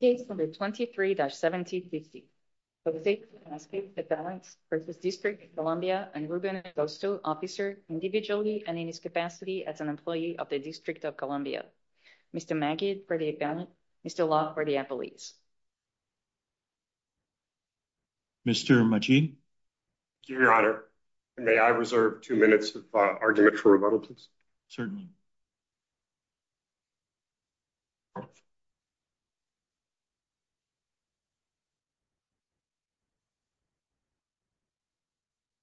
Case number 23-17-DC. Jose Vasquez for the District of Columbia and Ruben Agosto, Officer Individually and in his capacity as an employee of the District of Columbia. Mr. Magid for the Appellant. Mr. Locke for the Appellees. Mr. Majid. Your Honor, may I reserve two minutes of argument for rebuttal, please? Certainly. Your Honor,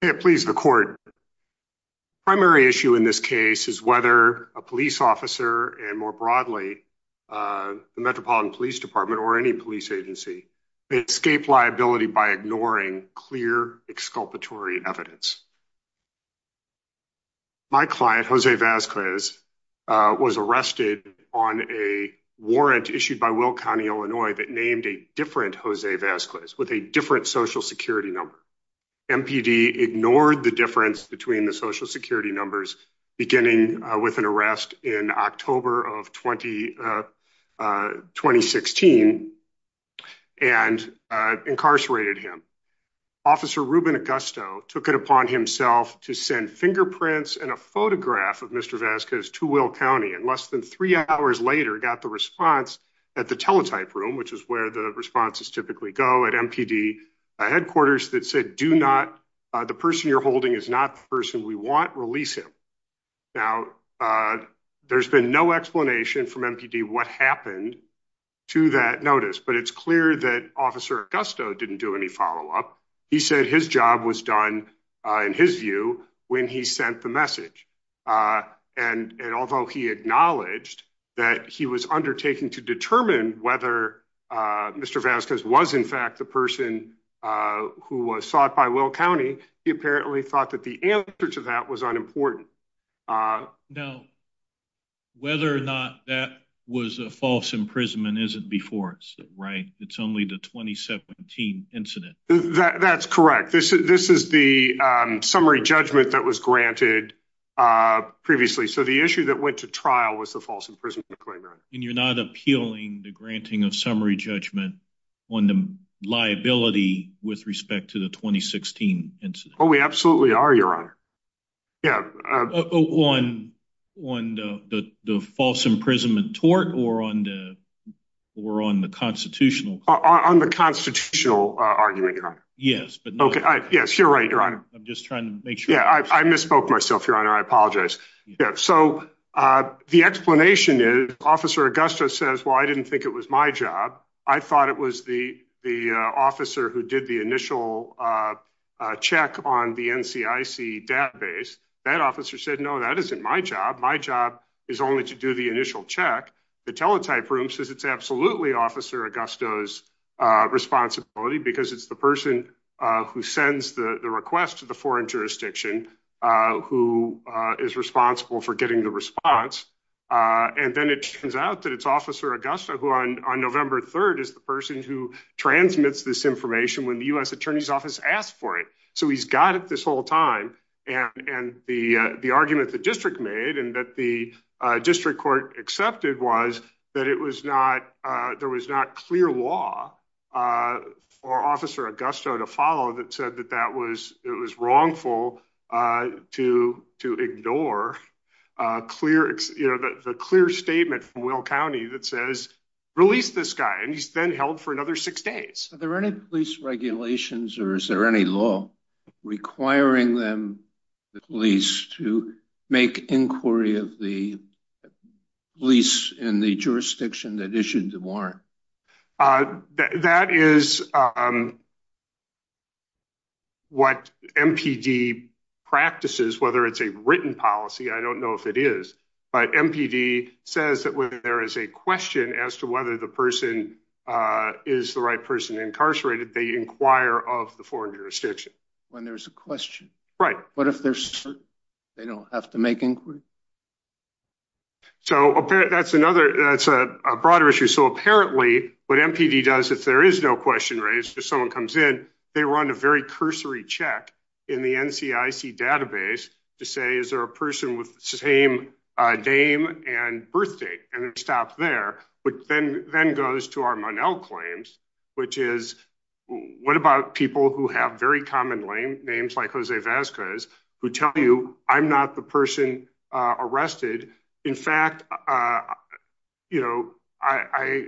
may I please have a moment of silence? Yeah, please, the court. Primary issue in this case is whether a police officer and more broadly, the Metropolitan Police Department or any police agency may escape liability by ignoring clear exculpatory evidence. My client, Jose Vasquez, was arrested on a warrant issued by Will County, Illinois that named a different Jose Vasquez with a different social security number. MPD ignored the difference between the social security numbers, beginning with an arrest in October of 2016 and incarcerated him. Officer Ruben Agosto took it upon himself to send fingerprints and a photograph of Mr. Vasquez to Will County and less than three hours later, got the response at the teletype room, which is where the responses typically go at MPD headquarters that said, do not, the person you're holding is not the person we want, release him. Now, there's been no explanation from MPD what happened to that notice, but it's clear that Officer Agosto didn't do any follow-up. He said his job was done, in his view, when he sent the message. And although he acknowledged that he was undertaking to determine whether Mr. Vasquez was, in fact, the person who was sought by Will County, he apparently thought that the answer to that was unimportant. Now, whether or not that was a false imprisonment isn't before us, right? It's only the 2017 incident. That's correct. This is the summary judgment that was granted previously. So the issue that went to trial was the false imprisonment claim, Your Honor. And you're not appealing the granting of summary judgment on the liability with respect to the 2016 incident? Oh, we absolutely are, Your Honor. Yeah. On the false imprisonment tort or on the constitutional? On the constitutional argument, Your Honor. Yes, but not- Yes, you're right, Your Honor. I'm just trying to make sure- Yeah, I misspoke myself, Your Honor. I apologize. So the explanation is Officer Augusto says, well, I didn't think it was my job. I thought it was the officer who did the initial check on the NCIC database. That officer said, no, that isn't my job. My job is only to do the initial check. The teletype room says it's absolutely Officer Augusto's responsibility because it's the person who sends the request to the foreign jurisdiction who is responsible for getting the response. And then it turns out that it's Officer Augusto who on November 3rd is the person who transmits this information when the U.S. Attorney's Office asked for it. So he's got it this whole time. And the argument the district made and that the district court accepted was that there was not clear law for Officer Augusto to follow that said that it was wrongful to ignore the clear statement from Will County that says, release this guy. And he's then held for another six days. Are there any police regulations or is there any law requiring them, the police, to make inquiry of the police in the jurisdiction that issued the warrant? That is what MPD practices, whether it's a written policy. I don't know if it is, but MPD says that when there is a question as to whether the person is the right person incarcerated, they inquire of the foreign jurisdiction. When there's a question. Right. What if they're certain they don't have to make inquiry? So that's another, that's a broader issue. So apparently what MPD does, if there is no question raised, if someone comes in, they run a very cursory check in the NCIC database to say, is there a person with the same name and birthdate? And it stops there, but then goes to our Monell claims, which is what about people who have very common names like Jose Vasquez, who tell you I'm not the person arrested. In fact, I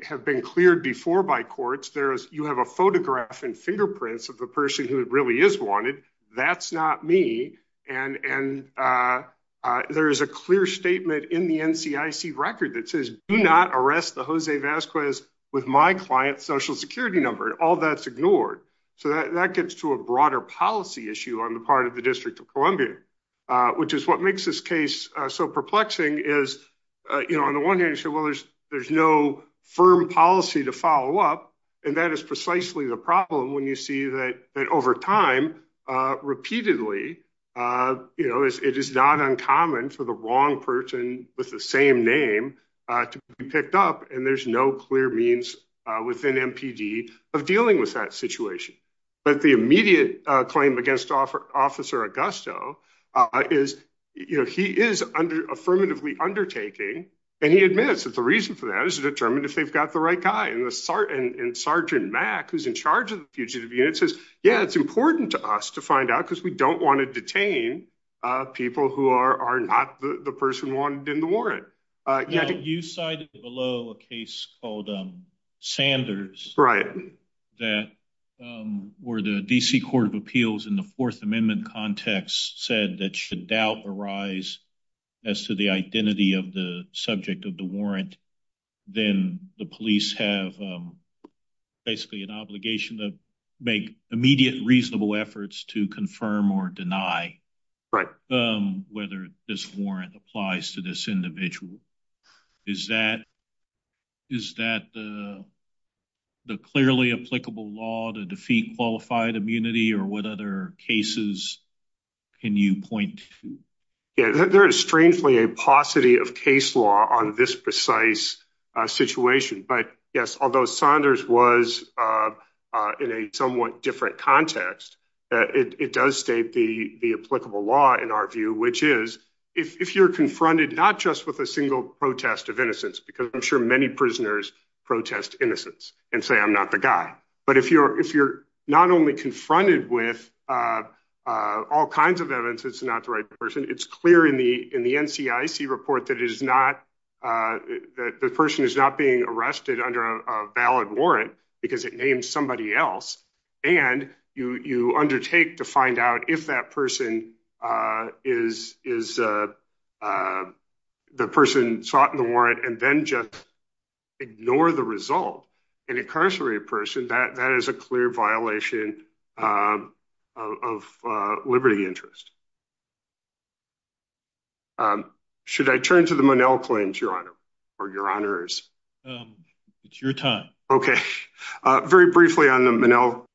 have been cleared before by courts. You have a photograph and fingerprints of the person who really is wanted. That's not me. And there is a clear statement in the NCIC record that says do not arrest the Jose Vasquez with my client's social security number. And all that's ignored. So that gets to a broader policy issue on the part of the District of Columbia, which is what makes this case so perplexing is, on the one hand you say, well, there's no firm policy to follow up. And that is precisely the problem when you see that over time repeatedly, it is not uncommon for the wrong person with the same name to be picked up. And there's no clear means within MPD of dealing with that situation. But the immediate claim against Officer Augusto is he is under affirmatively undertaking. And he admits that the reason for that is to determine if they've got the right guy. And Sergeant Mack, who's in charge of the fugitive unit, says, yeah, it's important to us to find out because we don't want to detain people who are not the person wanted in the warrant. Yeah. You cited below a case called Sanders. Right. That were the DC Court of Appeals in the Fourth Amendment context said that should doubt arise as to the identity of the subject of the warrant, then the police have basically an obligation to make immediate reasonable efforts to confirm or deny. Right. Whether this warrant applies to this individual. Is that the clearly applicable law to defeat qualified immunity or what other cases can you point to? Yeah. There is strangely a paucity of case law on this precise situation. But yes, although Sanders was in a somewhat different context, it does state the applicable law in our view, which is if you're confronted not just with a single protest of innocence, because I'm sure many prisoners protest innocence and say, I'm not the guy. But if you're not only confronted with all kinds of evidence, it's not the right person. It's clear in the NCIC report that the person is not being arrested under a valid warrant because it named somebody else. And you undertake to find out if that person is the person sought in the warrant and then just ignore the result. An incarcerated person, that is a clear violation of liberty interest. Should I turn to the Monell claims, Your Honor, or Your Honors? It's your time. Okay. Very briefly on the Monell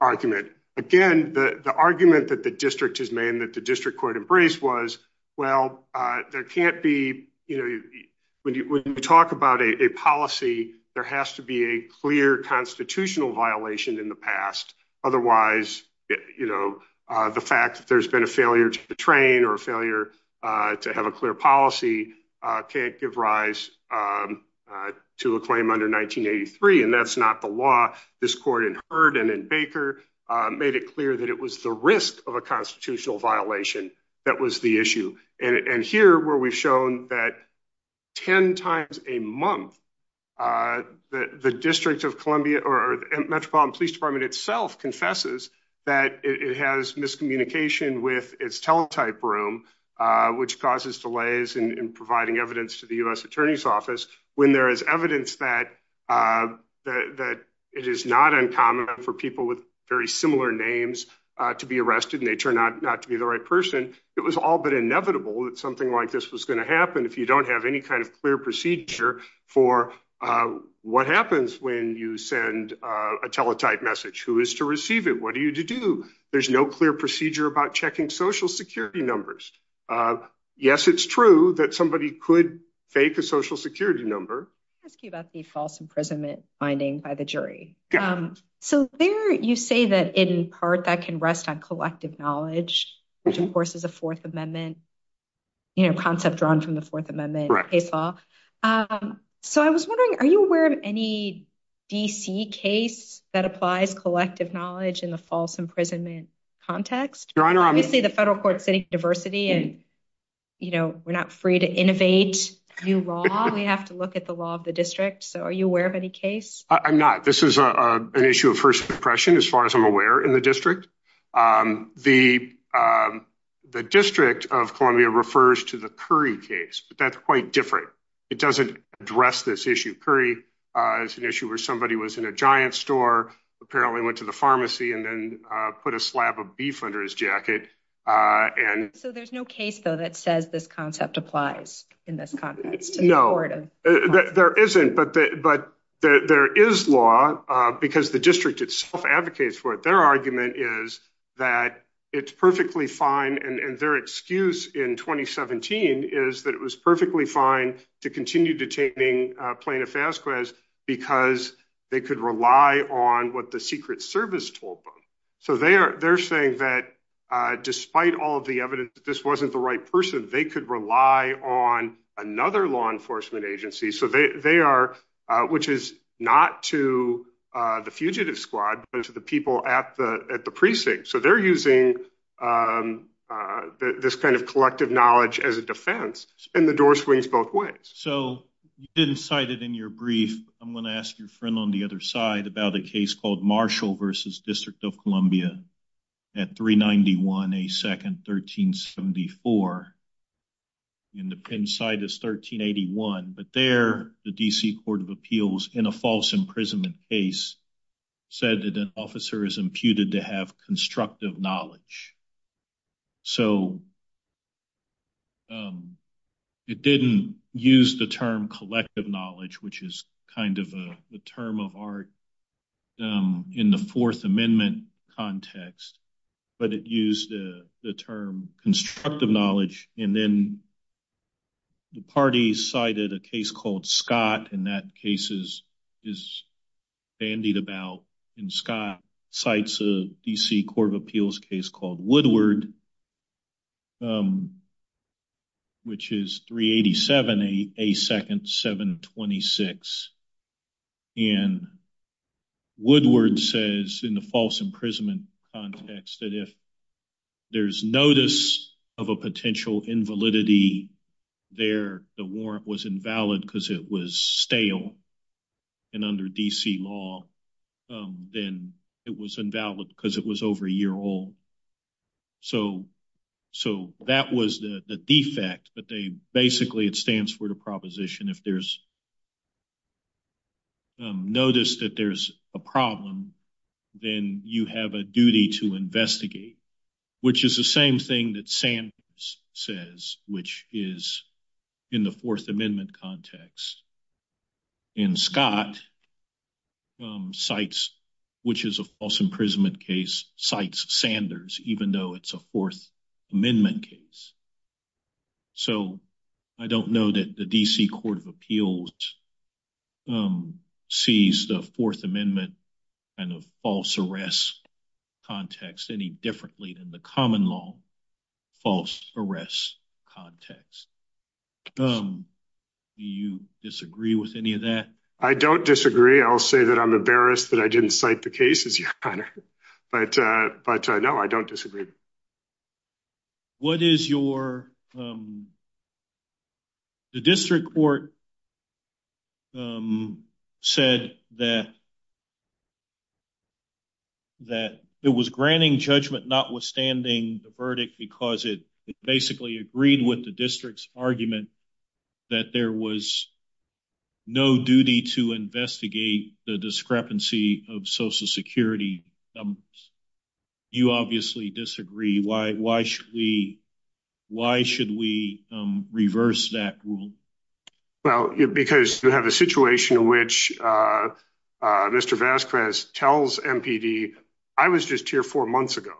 argument. Again, the argument that the district has made and that the district court embraced was, well, there can't be, when you talk about a policy, there has to be a clear constitutional violation in the past. Otherwise, the fact that there's been a failure to train or a failure to have a clear policy can't give rise to a claim under 1983. And that's not the law. This court in Hurd and in Baker made it clear that it was the risk of a constitutional violation that was the issue. And here where we've shown that 10 times a month, the District of Columbia or Metropolitan Police Department itself confesses that it has miscommunication with its teletype room, to the U.S. Attorney's Office, when there is evidence that it is not uncommon for people with very similar names to be arrested and they turn out not to be the right person, it was all but inevitable that something like this was gonna happen if you don't have any kind of clear procedure for what happens when you send a teletype message. Who is to receive it? What are you to do? There's no clear procedure about checking social security numbers. Yes, it's true that somebody could fake a social security number. I'll ask you about the false imprisonment finding by the jury. So there you say that in part that can rest on collective knowledge, which of course is a Fourth Amendment concept drawn from the Fourth Amendment case law. So I was wondering, are you aware of any D.C. case that applies collective knowledge in the false imprisonment context? Your Honor, I'm- Obviously the federal court is setting diversity and we're not free to innovate new law. We have to look at the law of the district. So are you aware of any case? I'm not. This is an issue of first impression as far as I'm aware in the district. The district of Columbia refers to the Curry case, but that's quite different. It doesn't address this issue. Curry is an issue where somebody was in a giant store, apparently went to the pharmacy and then put a slab of beef under his jacket and- So there's no case though that says this concept applies in this context? No, there isn't. But there is law because the district itself advocates for it. Their argument is that it's perfectly fine. And their excuse in 2017 is that it was perfectly fine to continue detaining plaintiff Fasquez because they could rely on what the Secret Service told them. So they're saying that despite all of the evidence that this wasn't the right person, they could rely on another law enforcement agency. So they are, which is not to the fugitive squad, but to the people at the precinct. So they're using this kind of collective knowledge as a defense and the door swings both ways. So you didn't cite it in your brief. I'm gonna ask your friend on the other side about a case called Marshall versus District of Columbia at 391 A. 2nd, 1374. And the pen site is 1381, but there the DC Court of Appeals in a false imprisonment case said that an officer is imputed to have constructive knowledge. So it didn't use the term collective knowledge, which is kind of a term of art in the Fourth Amendment context, but it used the term constructive knowledge. And then the party cited a case called Scott and that case is bandied about. And Scott cites a DC Court of Appeals case called Woodward, which is 387 A. 2nd, 726. And Woodward says in the false imprisonment context that if there's notice of a potential invalidity there, the warrant was invalid because it was stale and under DC law, then it was invalid because it was over a year old. So that was the defect, but basically it stands for the proposition if there's notice that there's a problem, then you have a duty to investigate, which is the same thing that Sanders says, which is in the Fourth Amendment context. And Scott cites, which is a false imprisonment case, cites Sanders, even though it's a Fourth Amendment case. So I don't know that the DC Court of Appeals sees the Fourth Amendment kind of false arrest context any differently than the common law false arrest context. Do you disagree with any of that? I don't disagree. I'll say that I'm embarrassed that I didn't cite the cases, Your Honor, but no, I don't disagree. What is your, the district court said that that it was granting judgment notwithstanding the verdict because it basically agreed with the district's argument that there was no duty to investigate the discrepancy of social security numbers. You obviously disagree. Why should we reverse that rule? Well, because you have a situation in which Mr. Vasquez tells MPD, I was just here four months ago.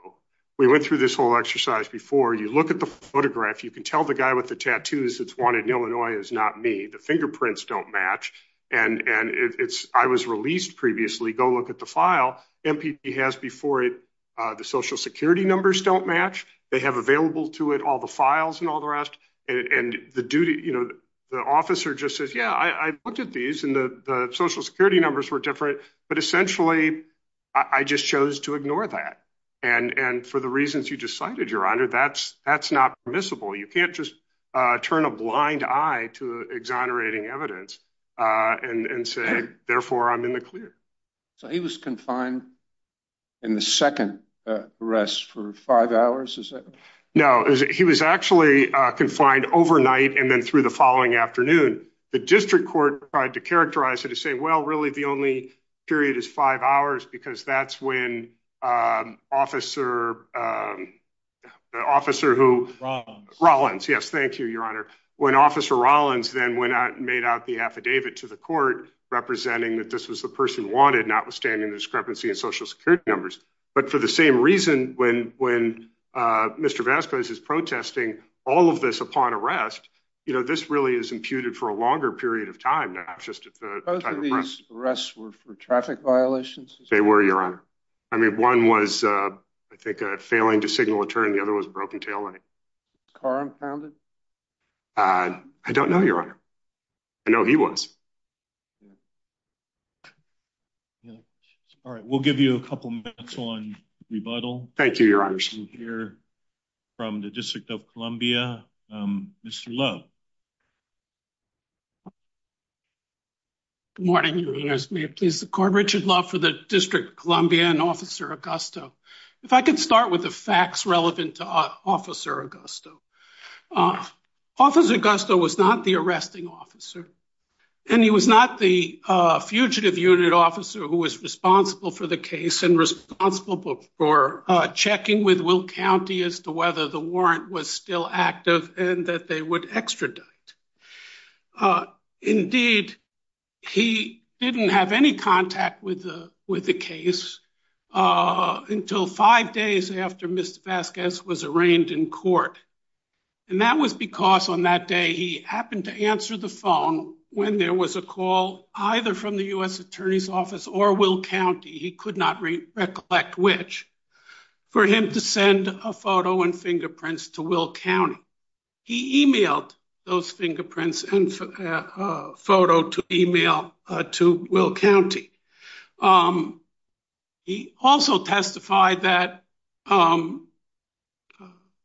We went through this whole exercise before. You look at the photograph. You can tell the guy with the tattoos that's wanted in Illinois is not me. The fingerprints don't match. And I was released previously. Go look at the file. MPD has before it, the social security numbers don't match. They have available to it all the files and all the rest. And the officer just says, yeah, I looked at these and the social security numbers were different, but essentially I just chose to ignore that. And for the reasons you just cited, Your Honor, that's not permissible. You can't just turn a blind eye to exonerating evidence and say, therefore I'm in the clear. So he was confined in the second arrest for five hours, is that? No, he was actually confined overnight and then through the following afternoon. The district court tried to characterize it to say, well, really the only period is five hours because that's when officer who- Rollins. Rollins, yes. Thank you, Your Honor. When officer Rollins then went out and made out the affidavit to the court representing that this was the person wanted, notwithstanding the discrepancy in social security numbers. But for the same reason, when Mr. Vasquez is protesting all of this upon arrest, this really is imputed for a longer period of time than just at the time of arrest. Both of these arrests were for traffic violations? They were, Your Honor. I mean, one was, I think, a failing to signal a turn and the other was a broken taillight. Car impounded? I don't know, Your Honor. I know he was. Yeah. Yeah. All right, we'll give you a couple minutes on rebuttal. Thank you, Your Honor. We'll hear from the District of Columbia. Mr. Love. Good morning, Your Honors. May it please the court, Richard Love for the District of Columbia and Officer Augusto. If I could start with the facts relevant to Officer Augusto. Officer Augusto was not the arresting officer. And he was not the fugitive unit officer who was responsible for the case and responsible for checking with Will County as to whether the warrant was still active and that they would extradite. Indeed, he didn't have any contact with the case until five days after Mr. Vasquez was arraigned in court. And that was because on that day, he happened to answer the phone when there was a call either from the U.S. Attorney's Office or Will County, he could not recollect which, for him to send a photo and fingerprints to Will County. He emailed those fingerprints and photo to email to Will County. He also testified that,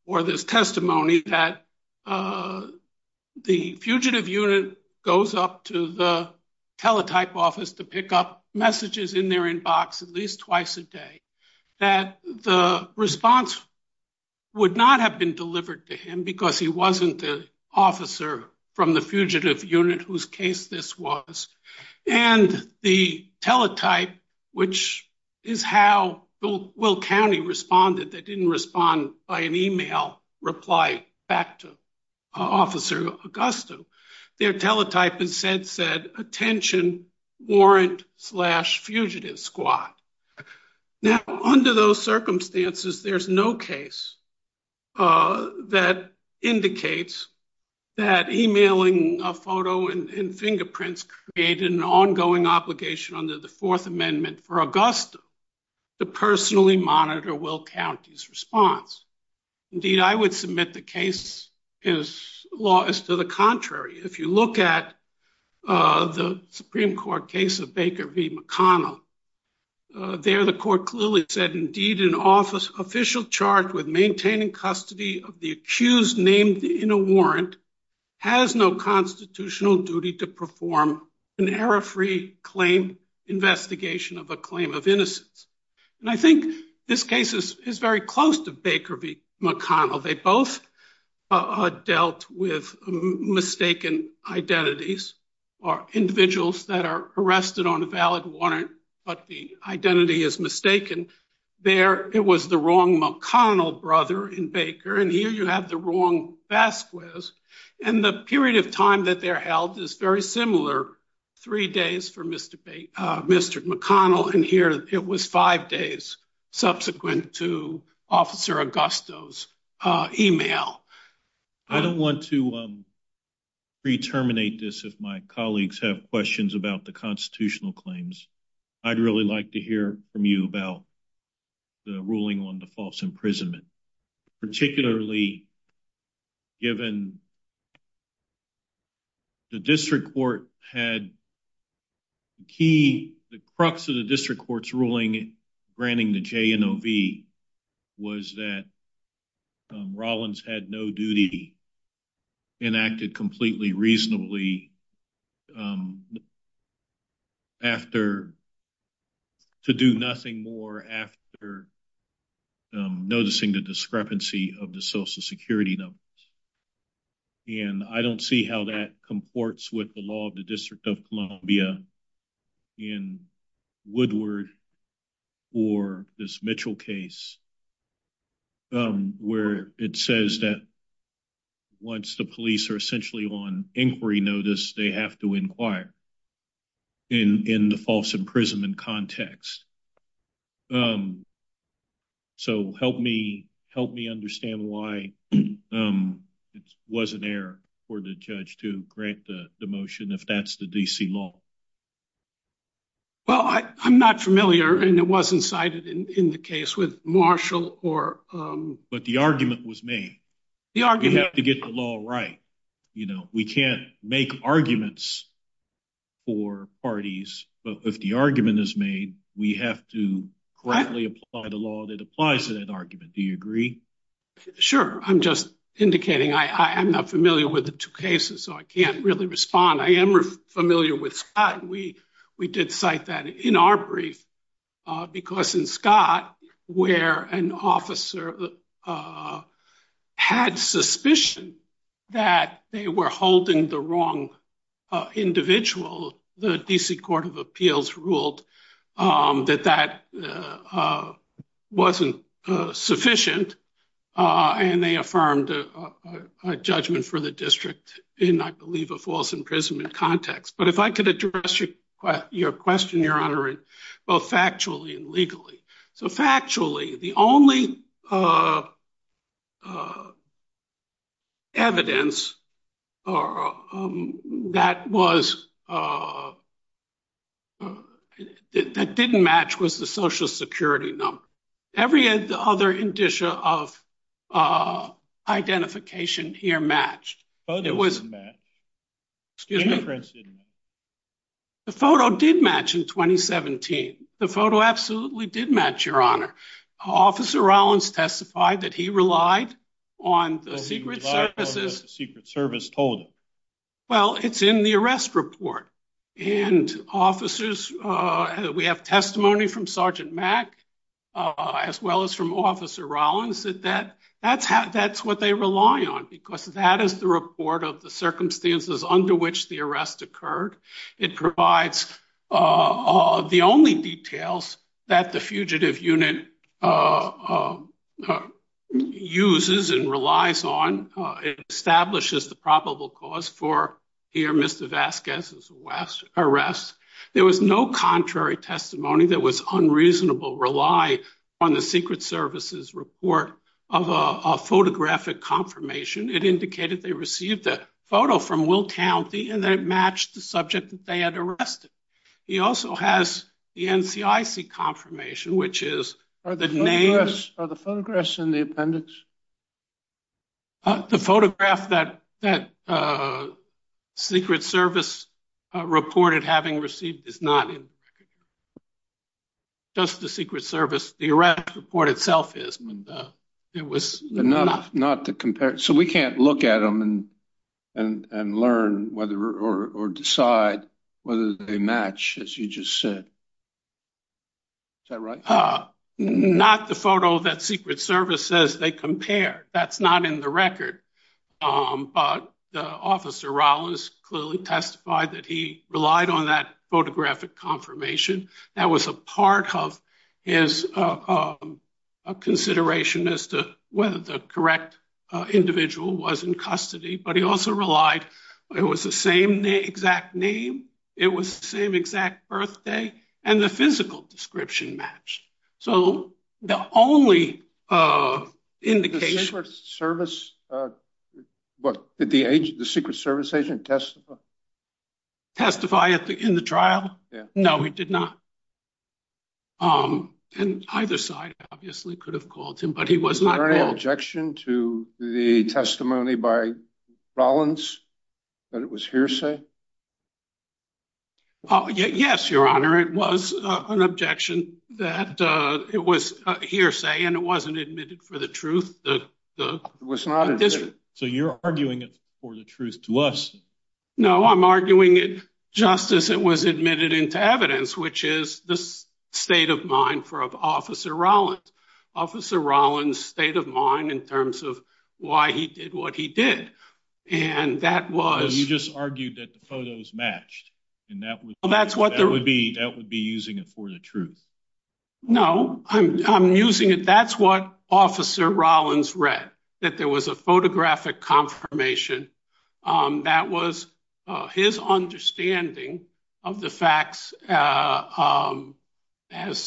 or there's testimony that the fugitive unit goes up to the teletype office to pick up messages in their inbox at least twice a day, that the response would not have been delivered to him because he wasn't the officer from the fugitive unit whose case this was. And the teletype, which is how Will County responded that didn't respond by an email reply back to Officer Augusto, their teletype had said, attention warrant slash fugitive squad. Now, under those circumstances, there's no case that indicates that emailing a photo and fingerprints created an ongoing obligation under the Fourth Amendment for Augusto to personally monitor Will County's response. Indeed, I would submit the case as law is to the contrary. If you look at the Supreme Court case of Baker v. McConnell, there the court clearly said, indeed an official charged with maintaining custody of the accused named in a warrant has no constitutional duty to perform an error-free claim investigation of a claim of innocence. And I think this case is very close to Baker v. McConnell. They both dealt with mistaken identities or individuals that are arrested on a valid warrant, but the identity is mistaken. There it was the wrong McConnell brother in Baker, and here you have the wrong Vasquez. And the period of time that they're held is very similar, three days for Mr. McConnell, and here it was five days subsequent to Officer Augusto's email. I don't want to pre-terminate this if my colleagues have questions about the constitutional claims. I'd really like to hear from you about the ruling on the false imprisonment, particularly given the district court had key, the crux of the district court's ruling granting the JNOV was that Rollins had no duty enacted completely reasonably after, to do nothing more after noticing the discrepancy of the social security numbers. And I don't see how that comports with the law of the District of Columbia in Woodward or this Mitchell case, where it says that once the police are essentially on inquiry notice, they have to inquire in the false imprisonment context. So help me understand why it was an error for the judge to grant the motion if that's the DC law. Well, I'm not familiar, and it wasn't cited in the case with Marshall or- But the argument was made. The argument- You have to get the law right. We can't make arguments for parties, but if the argument is made, we have to correctly apply the law that applies to that argument. Do you agree? Sure. I'm just indicating I'm not familiar with the two cases, so I can't really respond. I am familiar with Scott. We did cite that in our brief, because in Scott, where an officer had suspicion that they were holding the wrong individual, the DC Court of Appeals ruled that that wasn't sufficient. And they affirmed a judgment for the district in, I believe, a false imprisonment context. But if I could address your question, Your Honor, both factually and legally. So factually, the only evidence that didn't match was the Social Security number. Every other indicia of identification here matched. But it was- The photo didn't match. Excuse me? The interference didn't match. The photo did match in 2017. The photo absolutely did match, Your Honor. Officer Rollins testified that he relied on the Secret Service's- Well, he relied on what the Secret Service told him. Well, it's in the arrest report. And officers, we have testimony from Sergeant Mack, as well as from Officer Rollins, that that's what they rely on, because that is the report of the circumstances under which the arrest occurred. It provides the only details that the fugitive unit uses and relies on. It establishes the probable cause for here, Mr. Vasquez's arrest. There was no contrary testimony that was unreasonable, rely on the Secret Service's report of a photographic confirmation. It indicated they received a photo from Will Townsend and that it matched the subject that they had arrested. He also has the NCIC confirmation, which is- Are the photographs in the appendix? having received is not in the record. Just the Secret Service, the arrest report itself is. And it was- Not to compare. So we can't look at them and learn whether, or decide whether they match, as you just said. Is that right? Not the photo that Secret Service says they compare. That's not in the record. But Officer Rollins clearly testified that he relied on that photographic confirmation. That was a part of his consideration as to whether the correct individual was in custody. But he also relied, it was the same exact name, it was the same exact birthday, and the physical description matched. So the only indication- The Secret Service, what, did the agent, did the Secret Service agent testify? Testify in the trial? No, he did not. And either side obviously could have called him, but he was not called. Was there any objection to the testimony by Rollins that it was hearsay? Yes, Your Honor, it was an objection that it was hearsay, and it wasn't admitted for the truth. It was not admitted. So you're arguing it for the truth to us? No, I'm arguing it just as it was admitted into evidence, which is the state of mind for Officer Rollins, Officer Rollins' state of mind in terms of why he did what he did. And that was- No, you just argued that the photos matched, and that would be using it for the truth. No, I'm using it. That's what Officer Rollins read, that there was a photographic confirmation. That was his understanding of the facts as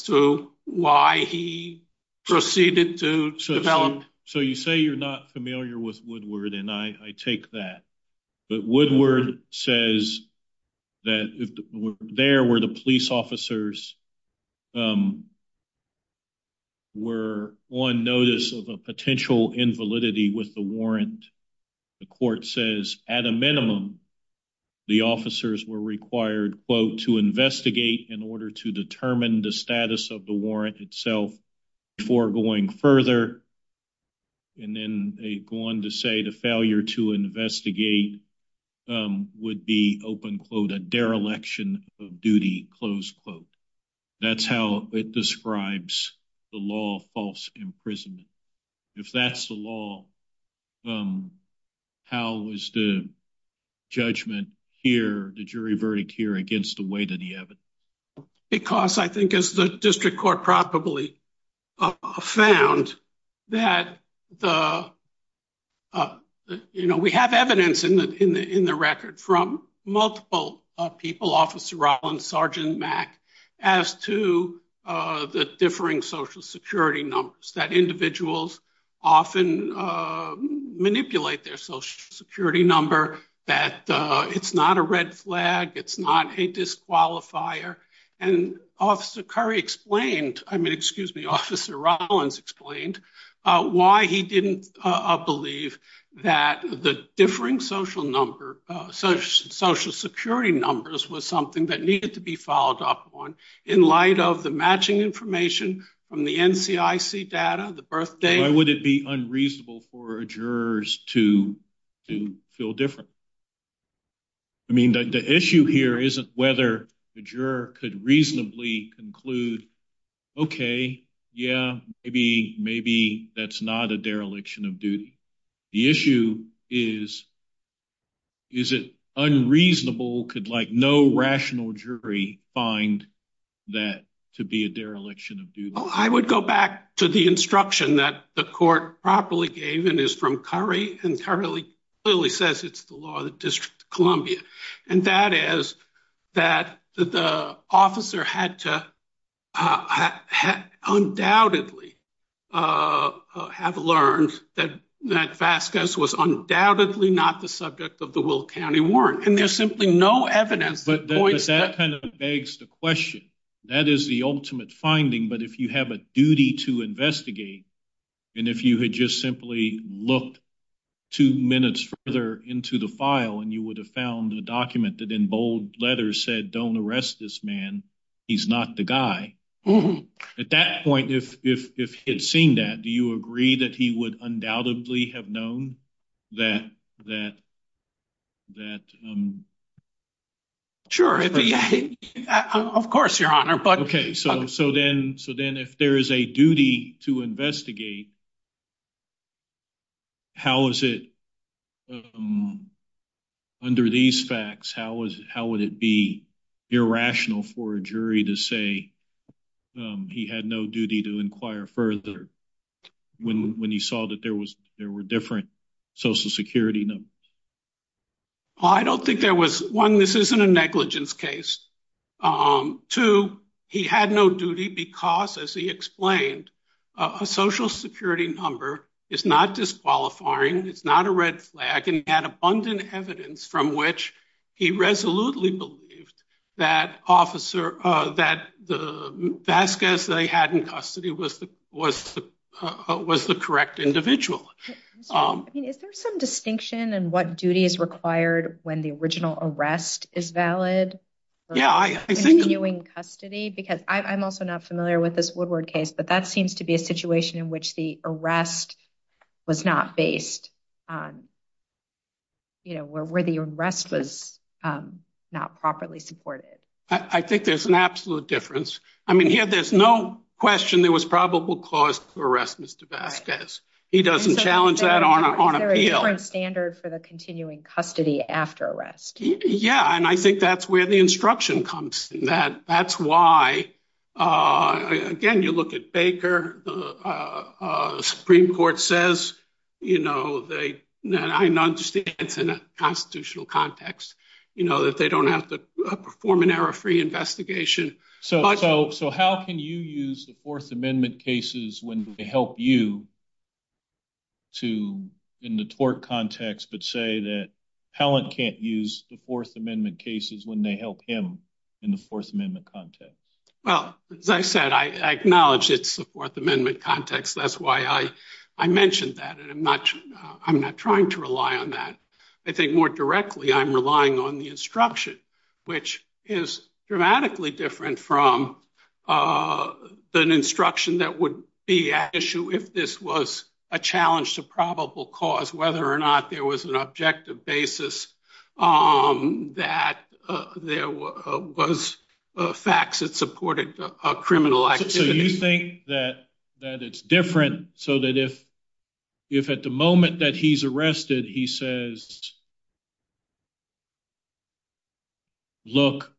to why he proceeded to develop- So you say you're not familiar with Woodward, and I take that. But Woodward says that there were the police officers who were on notice of a potential invalidity with the warrant. The court says, at a minimum, the officers were required, quote, to investigate in order to determine the status of the warrant itself before going further. And then they go on to say the failure to investigate would be, open quote, a dereliction of duty, close quote. That's how it describes the law of false imprisonment. If that's the law, how is the judgment here, the jury verdict here, against the weight of the evidence? Because I think, as the district court probably found, that we have evidence in the record from multiple people, Officer Rollins, Sergeant Mack, as to the differing social security numbers, that individuals often manipulate their social security number, that it's not a red flag, it's not a disqualifier. And Officer Curry explained, I mean, excuse me, Officer Rollins explained why he didn't believe that the differing social security numbers was something that needed to be followed up on in light of the matching information from the NCIC data, the birth date. Why would it be unreasonable for jurors to feel different? I mean, the issue here isn't whether the juror could reasonably conclude, okay, yeah, maybe, maybe that's not a dereliction of duty. The issue is, is it unreasonable, could no rational jury find that to be a dereliction of duty? I would go back to the instruction that the court properly gave, and it's from Curry, and Curry clearly says it's the law of the District of Columbia and that is that the officer had to undoubtedly have learned that Vasquez was undoubtedly not the subject of the Will County Warrant. And there's simply no evidence that points to that. But that kind of begs the question, that is the ultimate finding, but if you have a duty to investigate, and if you had just simply looked two minutes further into the file and you would have found a document that in bold letters said, don't arrest this man, he's not the guy. At that point, if he had seen that, do you agree that he would undoubtedly have known that... Sure, of course, Your Honor, but... Okay, so then if there is a duty to investigate, how is it under these facts, how would it be irrational for a jury to say he had no duty to inquire further when he saw that there were different social security numbers? Well, I don't think there was, one, this isn't a negligence case. Two, he had no duty because, as he explained, a social security number is not disqualifying, it's not a red flag, and he had abundant evidence from which he resolutely believed that officer, that Vasquez that he had in custody was the correct individual. I mean, is there some distinction in what duty is required when the original arrest is valid? Yeah, I think- Continuing custody, because I'm also not familiar with this Woodward case, but that seems to be a situation in which the arrest was not based on, you know, where the arrest was not properly supported. I think there's an absolute difference. I mean, here, there's no question there was probable cause for arrest, Mr. Vasquez. He doesn't challenge that on appeal. Is there a different standard for the continuing custody after arrest? Yeah, and I think that's where the instruction comes. That's why, again, you look at Baker, the Supreme Court says, you know, that I understand it's in a constitutional context, you know, that they don't have to perform an error-free investigation. So how can you use the Fourth Amendment cases when they help you to, in the tort context, but say that Pellant can't use the Fourth Amendment cases when they help him in the Fourth Amendment context? Well, as I said, I acknowledge it's the Fourth Amendment context. That's why I mentioned that, and I'm not trying to rely on that. I think more directly, I'm relying on the instruction, which is dramatically different from an instruction that would be at issue if this was a challenge to probable cause, whether or not there was an objective basis that there was facts that supported a criminal activity. So you think that it's different so that if at the moment that he's arrested, he says, look,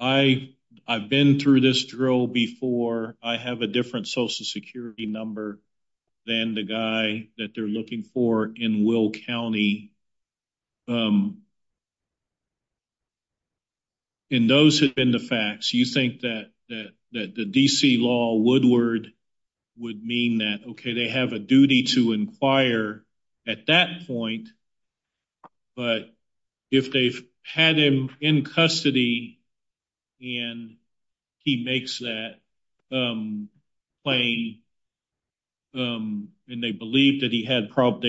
I've been through this drill before. I have a different social security number than the guy that they're looking for in Will County. And those have been the facts. You think that the D.C. law, Woodward, would mean that, okay, they have a duty to inquire. At that point, but if they've had him in custody and he makes that claim, and they believe that they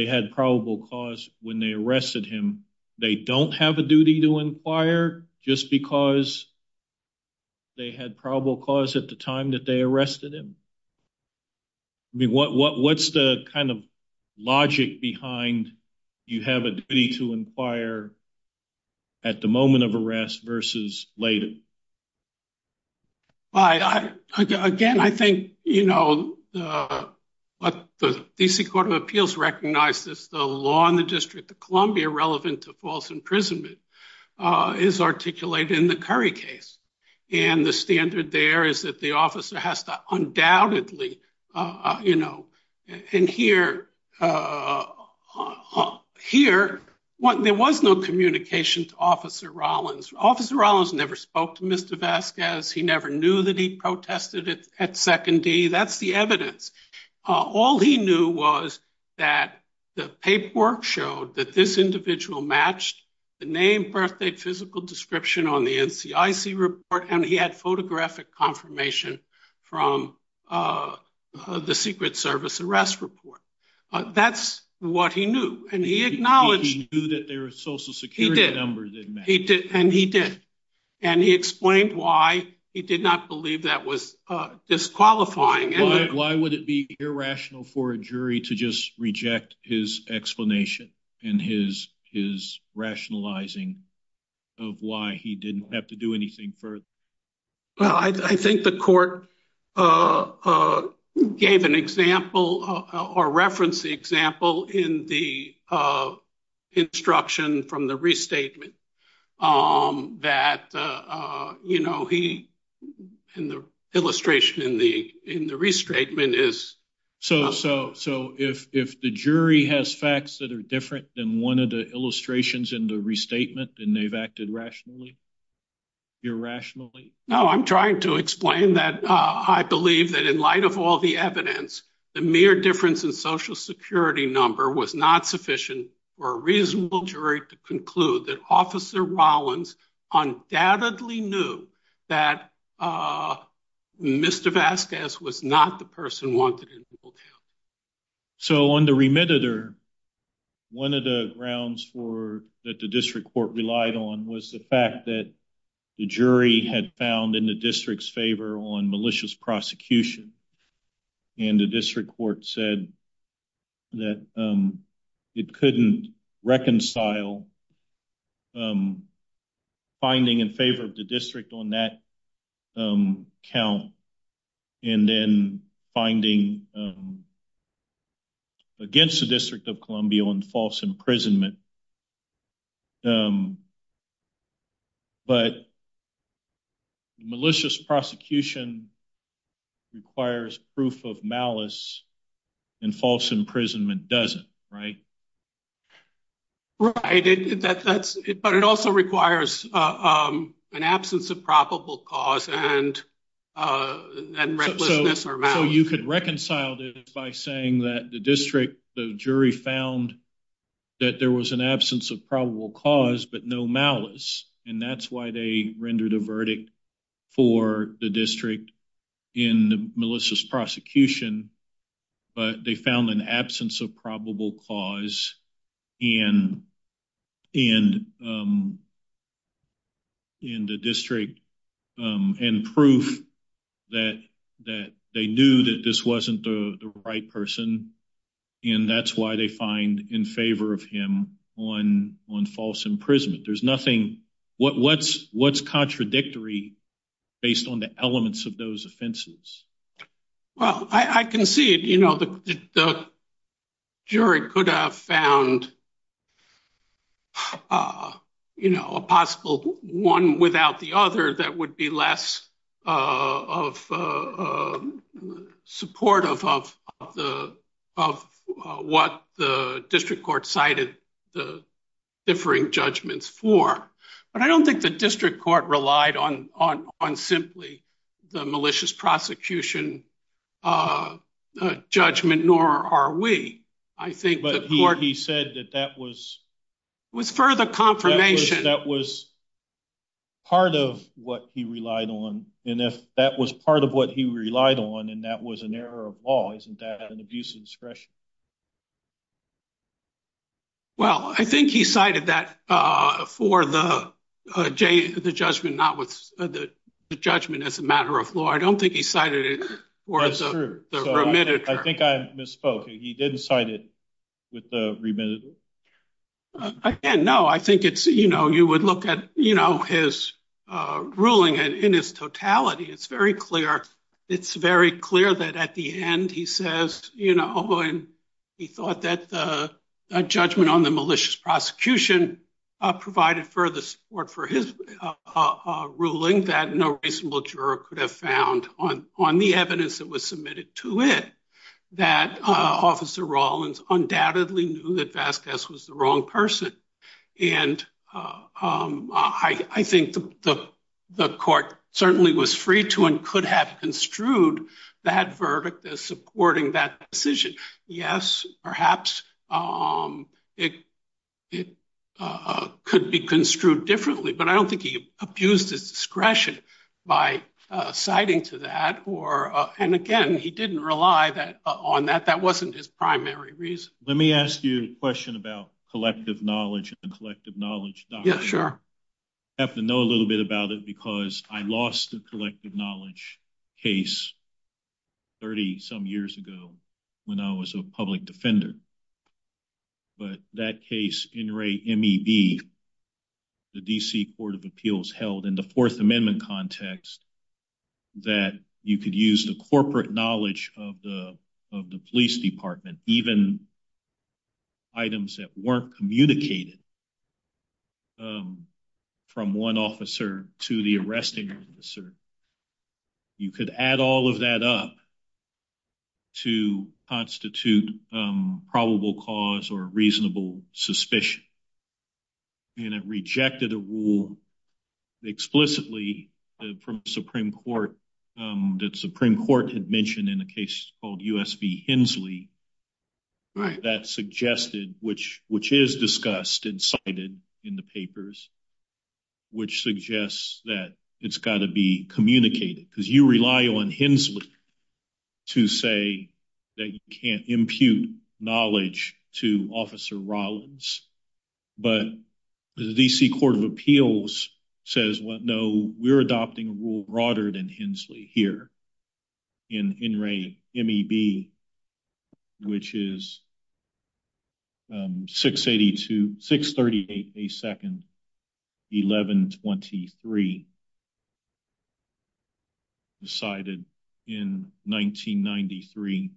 had probable cause when they arrested him, they don't have a duty to inquire just because they had probable cause at the time that they arrested him? I mean, what's the kind of logic behind you have a duty to inquire at the moment of arrest versus later? Well, again, I think what the D.C. Court of Appeals recognizes the law in the District of Columbia relevant to false imprisonment is articulated in the Curry case. And the standard there is that the officer has to undoubtedly, you know, and here, there was no communication to Officer Rollins. Officer Rollins never spoke to Mr. Vasquez. He never knew that he protested at Second D. That's the evidence. All he knew was that the paperwork showed that this individual matched the name, birthdate, physical description on the NCIC report, and he had photographic confirmation from the Secret Service arrest report. That's what he knew, and he acknowledged- He knew that their Social Security numbers didn't match. And he did. And he explained why he did not believe that was disqualifying. Why would it be irrational for a jury to just reject his explanation and his rationalizing of why he didn't have to do anything further? Well, I think the court gave an example or referenced the example in the instruction from the restatement that, you know, he, in the illustration in the restatement is- So if the jury has facts that are different than one of the illustrations in the restatement, then they've acted rationally, irrationally? No, I'm trying to explain that I believe that in light of all the evidence, the mere difference in Social Security number was not sufficient for a reasonable jury to conclude that Officer Rollins undoubtedly knew that Mr. Vasquez was not the person wanted in the hotel. So on the remediator, one of the grounds that the district court relied on was the fact that the jury had found in the district's favor on malicious prosecution. And the district court said that it couldn't reconcile finding in favor of the district on that count and then finding against the District of Columbia on false imprisonment. But malicious prosecution requires proof of malice and false imprisonment doesn't, right? Right, but it also requires an absence of probable cause and recklessness or malice. So you could reconcile this by saying that the district, the jury found that there was an absence of probable cause, but no malice. And that's why they rendered a verdict for the district in Melissa's prosecution, but they found an absence of probable cause and the district and proof that they knew that this wasn't the right person. And that's why they find in favor of him on false imprisonment. There's nothing, what's contradictory based on the elements of those offenses? Well, I concede the jury could have found a possible one without the other that would be less supportive of what the district court cited the differing judgments for. But I don't think the district court relied on simply the malicious prosecution judgment, nor are we. I think the court- But he said that that was- Was further confirmation. That was part of what he relied on. And if that was part of what he relied on and that was an error of law, isn't that an abuse of discretion? Well, I think he cited that for the judgment not with the judgment as a matter of law. I don't think he cited it for the remittance. I think I misspoke. He didn't cite it with the remittance? Again, no, I think it's, you would look at his ruling and in his totality, it's very clear. It's very clear that at the end, he says, he thought that the judgment on the malicious prosecution provided further support for his ruling that no reasonable juror could have found on the evidence that was submitted to it, that Officer Rawlins undoubtedly knew that Vasquez was the wrong person. And I think the court certainly was free to and could have construed that verdict as supporting that decision. Yes, perhaps it could be construed differently, but I don't think he abused his discretion by citing to that or, and again, he didn't rely on that. That wasn't his primary reason. Let me ask you a question about collective knowledge and collective knowledge doctrine. Yeah, sure. I have to know a little bit about it because I lost a collective knowledge case 30 some years ago when I was a public defender, but that case, NRAE-MEB, the DC Court of Appeals held in the Fourth Amendment context that you could use the corporate knowledge of the police department, even items that weren't communicated from one officer to the arresting officer. You could add all of that up to constitute probable cause or reasonable suspicion. And it rejected a rule explicitly from Supreme Court that Supreme Court had mentioned in a case called U.S. v. Hensley that suggested, which is discussed and cited in the papers, which suggests that it's gotta be communicated because you rely on Hensley to say that you can't impute knowledge to Officer Rollins. But the DC Court of Appeals says, well, no, we're adopting a rule broader than Hensley here in NRAE-MEB, which is 632, 638 a second 1123, decided in 1993.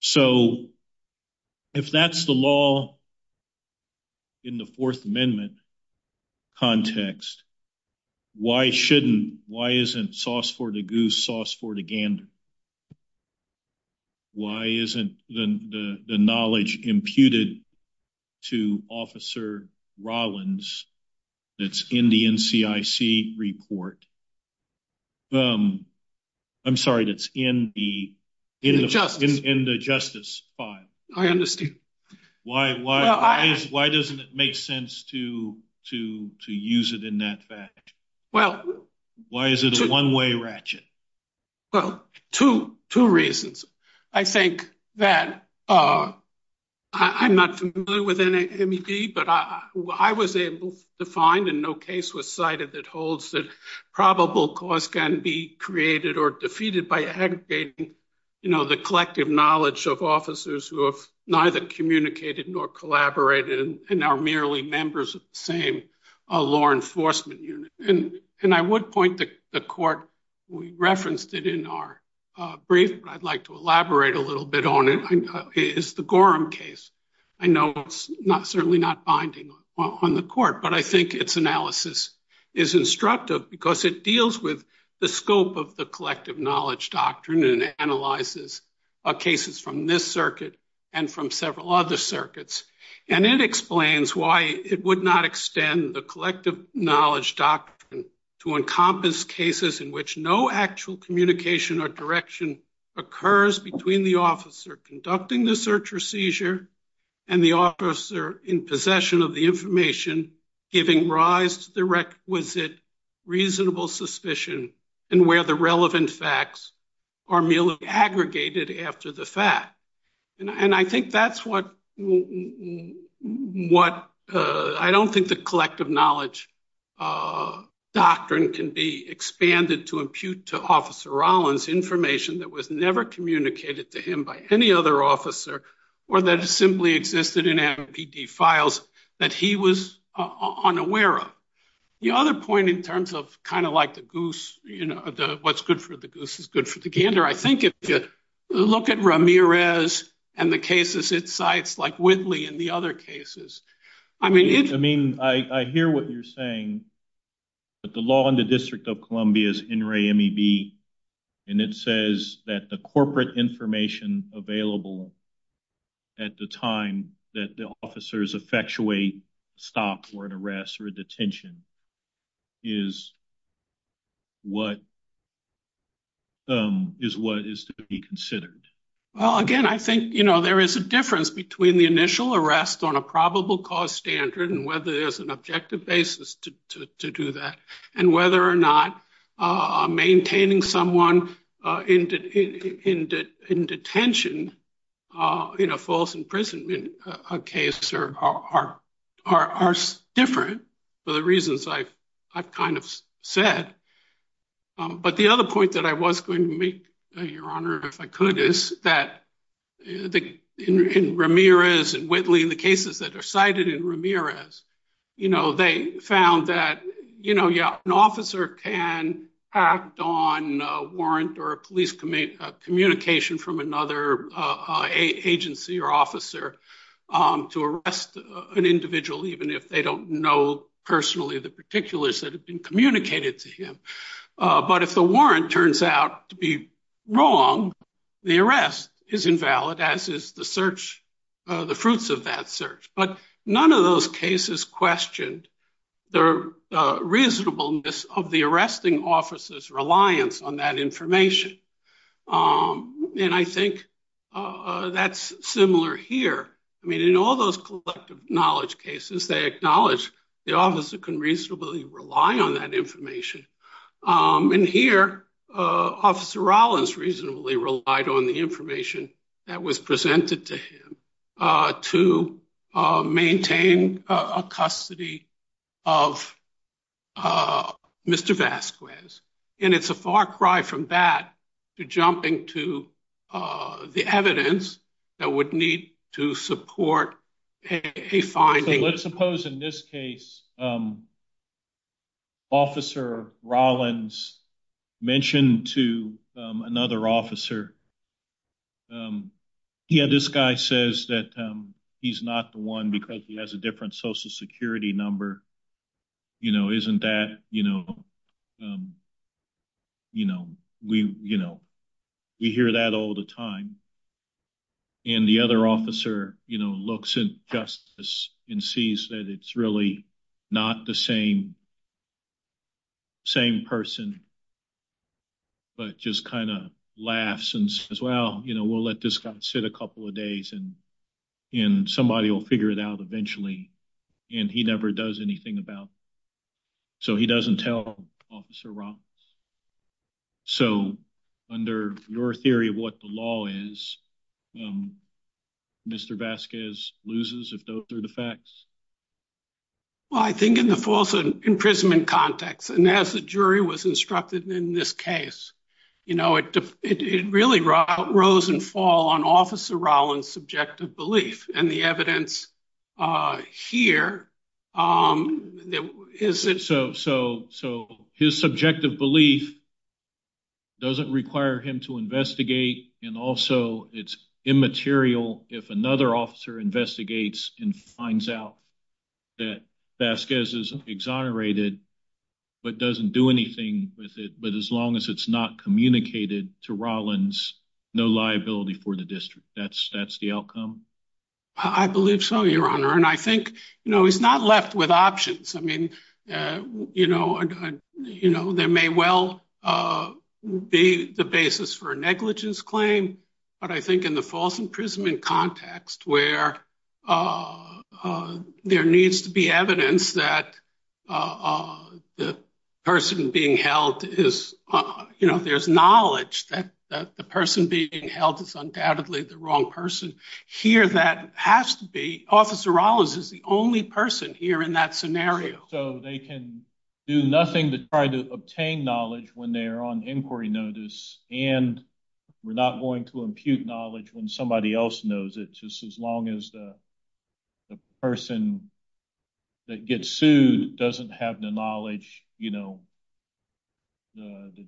So if that's the law in the Fourth Amendment context, why shouldn't, why isn't sauce for the goose, sauce for the gander? Why isn't the knowledge imputed to Officer Rollins that's in the NCIC report? I'm sorry, that's in the justice file. I understand. Why doesn't it make sense to use it in that fashion? Why is it a one-way ratchet? Well, two reasons. I think that I'm not familiar with NRAE-MEB, but I was able to find, and no case was cited that holds that probable cause can be created or defeated by aggregating the collective knowledge of officers who have neither communicated nor collaborated and are merely members of the same law enforcement unit. And I would point to the court, we referenced it in our brief, but I'd like to elaborate a little bit on it, is the Gorham case. I know it's certainly not binding on the court, but I think its analysis is instructive because it deals with the scope of the collective knowledge doctrine and analyzes cases from this circuit and from several other circuits. And it explains why it would not extend the collective knowledge doctrine to encompass cases in which no actual communication or direction occurs between the officer conducting the search or seizure and the officer in possession of the information giving rise to the requisite reasonable suspicion and where the relevant facts are merely aggregated after the fact. And I think that's what, I don't think the collective knowledge doctrine can be expanded to impute to Officer Rollins information that was never communicated to him by any other officer or that simply existed in MPD files that he was unaware of. The other point in terms of kind of like the goose, what's good for the goose is good for the gander. I think if you look at Ramirez and the cases it cites, like Whitley and the other cases, I mean- I mean, I hear what you're saying, but the law in the District of Columbia is NREA-MEB. And it says that the corporate information available at the time that the officers effectuate stop or an arrest or a detention is what is to be considered. Well, again, I think there is a difference between the initial arrest on a probable cause standard and whether there's an objective basis to do that and whether or not maintaining someone in detention in a false imprisonment case are different for the reasons I've kind of said. But the other point that I was going to make, Your Honor, if I could, is that in Ramirez and Whitley, in the cases that are cited in Ramirez, they found that, yeah, an officer can act on a warrant or a police communication from another agency or officer to arrest an individual, even if they don't know personally the particulars that have been communicated to him. But if the warrant turns out to be wrong, the arrest is invalid as is the search, the fruits of that search. But none of those cases questioned the reasonableness of the arresting officer's reliance on that information. And I think that's similar here. I mean, in all those collective knowledge cases, they acknowledge the officer can reasonably rely on that information. And here, Officer Rollins reasonably relied on the information that was presented to him to maintain a custody of Mr. Vasquez. And it's a far cry from that to jumping to the evidence that would need to support a finding. Let's suppose in this case, Officer Rollins mentioned to another officer, yeah, this guy says that he's not the one because he has a different social security number. Isn't that, we hear that all the time. And the other officer looks at justice and sees that it's really not the same person, but just kind of laughs and says, well, we'll let this guy sit a couple of days and somebody will figure it out eventually. And he never does anything about it. So he doesn't tell Officer Rollins. So under your theory of what the law is, Mr. Vasquez loses if those are the facts? Well, I think in the false imprisonment context and as the jury was instructed in this case, it really rose and fall on Officer Rollins' subjective belief and the evidence here is that- So his subjective belief doesn't require him to investigate and also it's immaterial if another officer investigates and finds out that Vasquez is exonerated but doesn't do anything with it. But as long as it's not communicated to Rollins, no liability for the district, that's the outcome? I believe so, Your Honor. And I think, he's not left with options. I mean, there may well be the basis for a negligence claim but I think in the false imprisonment context where there needs to be evidence that the person being held is, there's knowledge that the person being held is undoubtedly the wrong person. Here that has to be, Officer Rollins is the only person here in that scenario. So they can do nothing to try to obtain knowledge when they're on inquiry notice and we're not going to impute knowledge when somebody else knows it. Just as long as the person that gets sued doesn't have the knowledge, the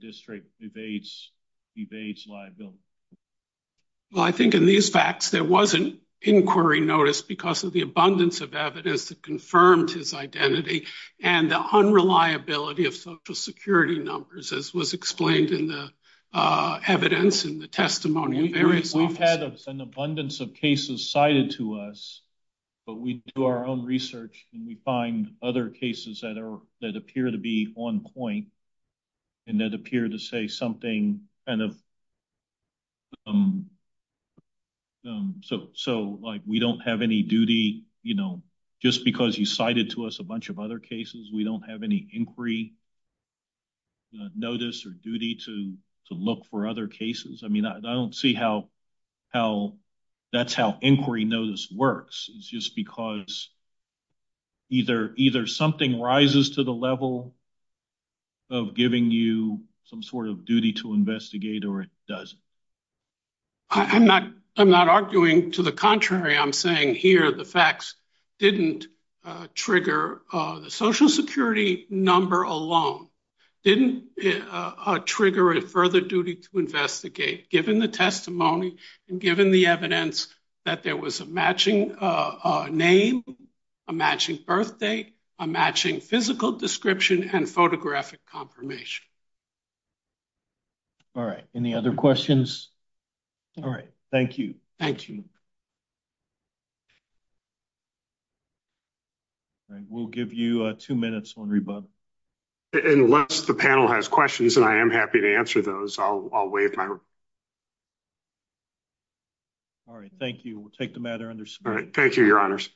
district evades liability. Well, I think in these facts, there wasn't inquiry notice because of the abundance of evidence that confirmed his identity and the unreliability of social security numbers as was explained in the evidence in the testimony of various officers. We've had an abundance of cases cited to us but we do our own research and we find other cases that appear to be on point and that appear to say something kind of, so like we don't have any duty, just because you cited to us a bunch of other cases, we don't have any inquiry notice or duty to look for other cases. I mean, I don't see how that's how inquiry notice works. It's just because either something rises to the level of giving you some sort of duty to investigate or it doesn't. I'm not arguing to the contrary. I'm saying here, the facts didn't trigger the social security number alone, didn't trigger a further duty to investigate given the testimony and given the evidence that there was a matching name, a matching birth date, a matching physical description and photographic confirmation. All right, any other questions? All right, thank you. Thank you. Thank you. All right, we'll give you two minutes on rebuttal. Unless the panel has questions and I am happy to answer those, I'll waive my. All right, thank you. We'll take the matter under scrutiny. All right, thank you, your honors.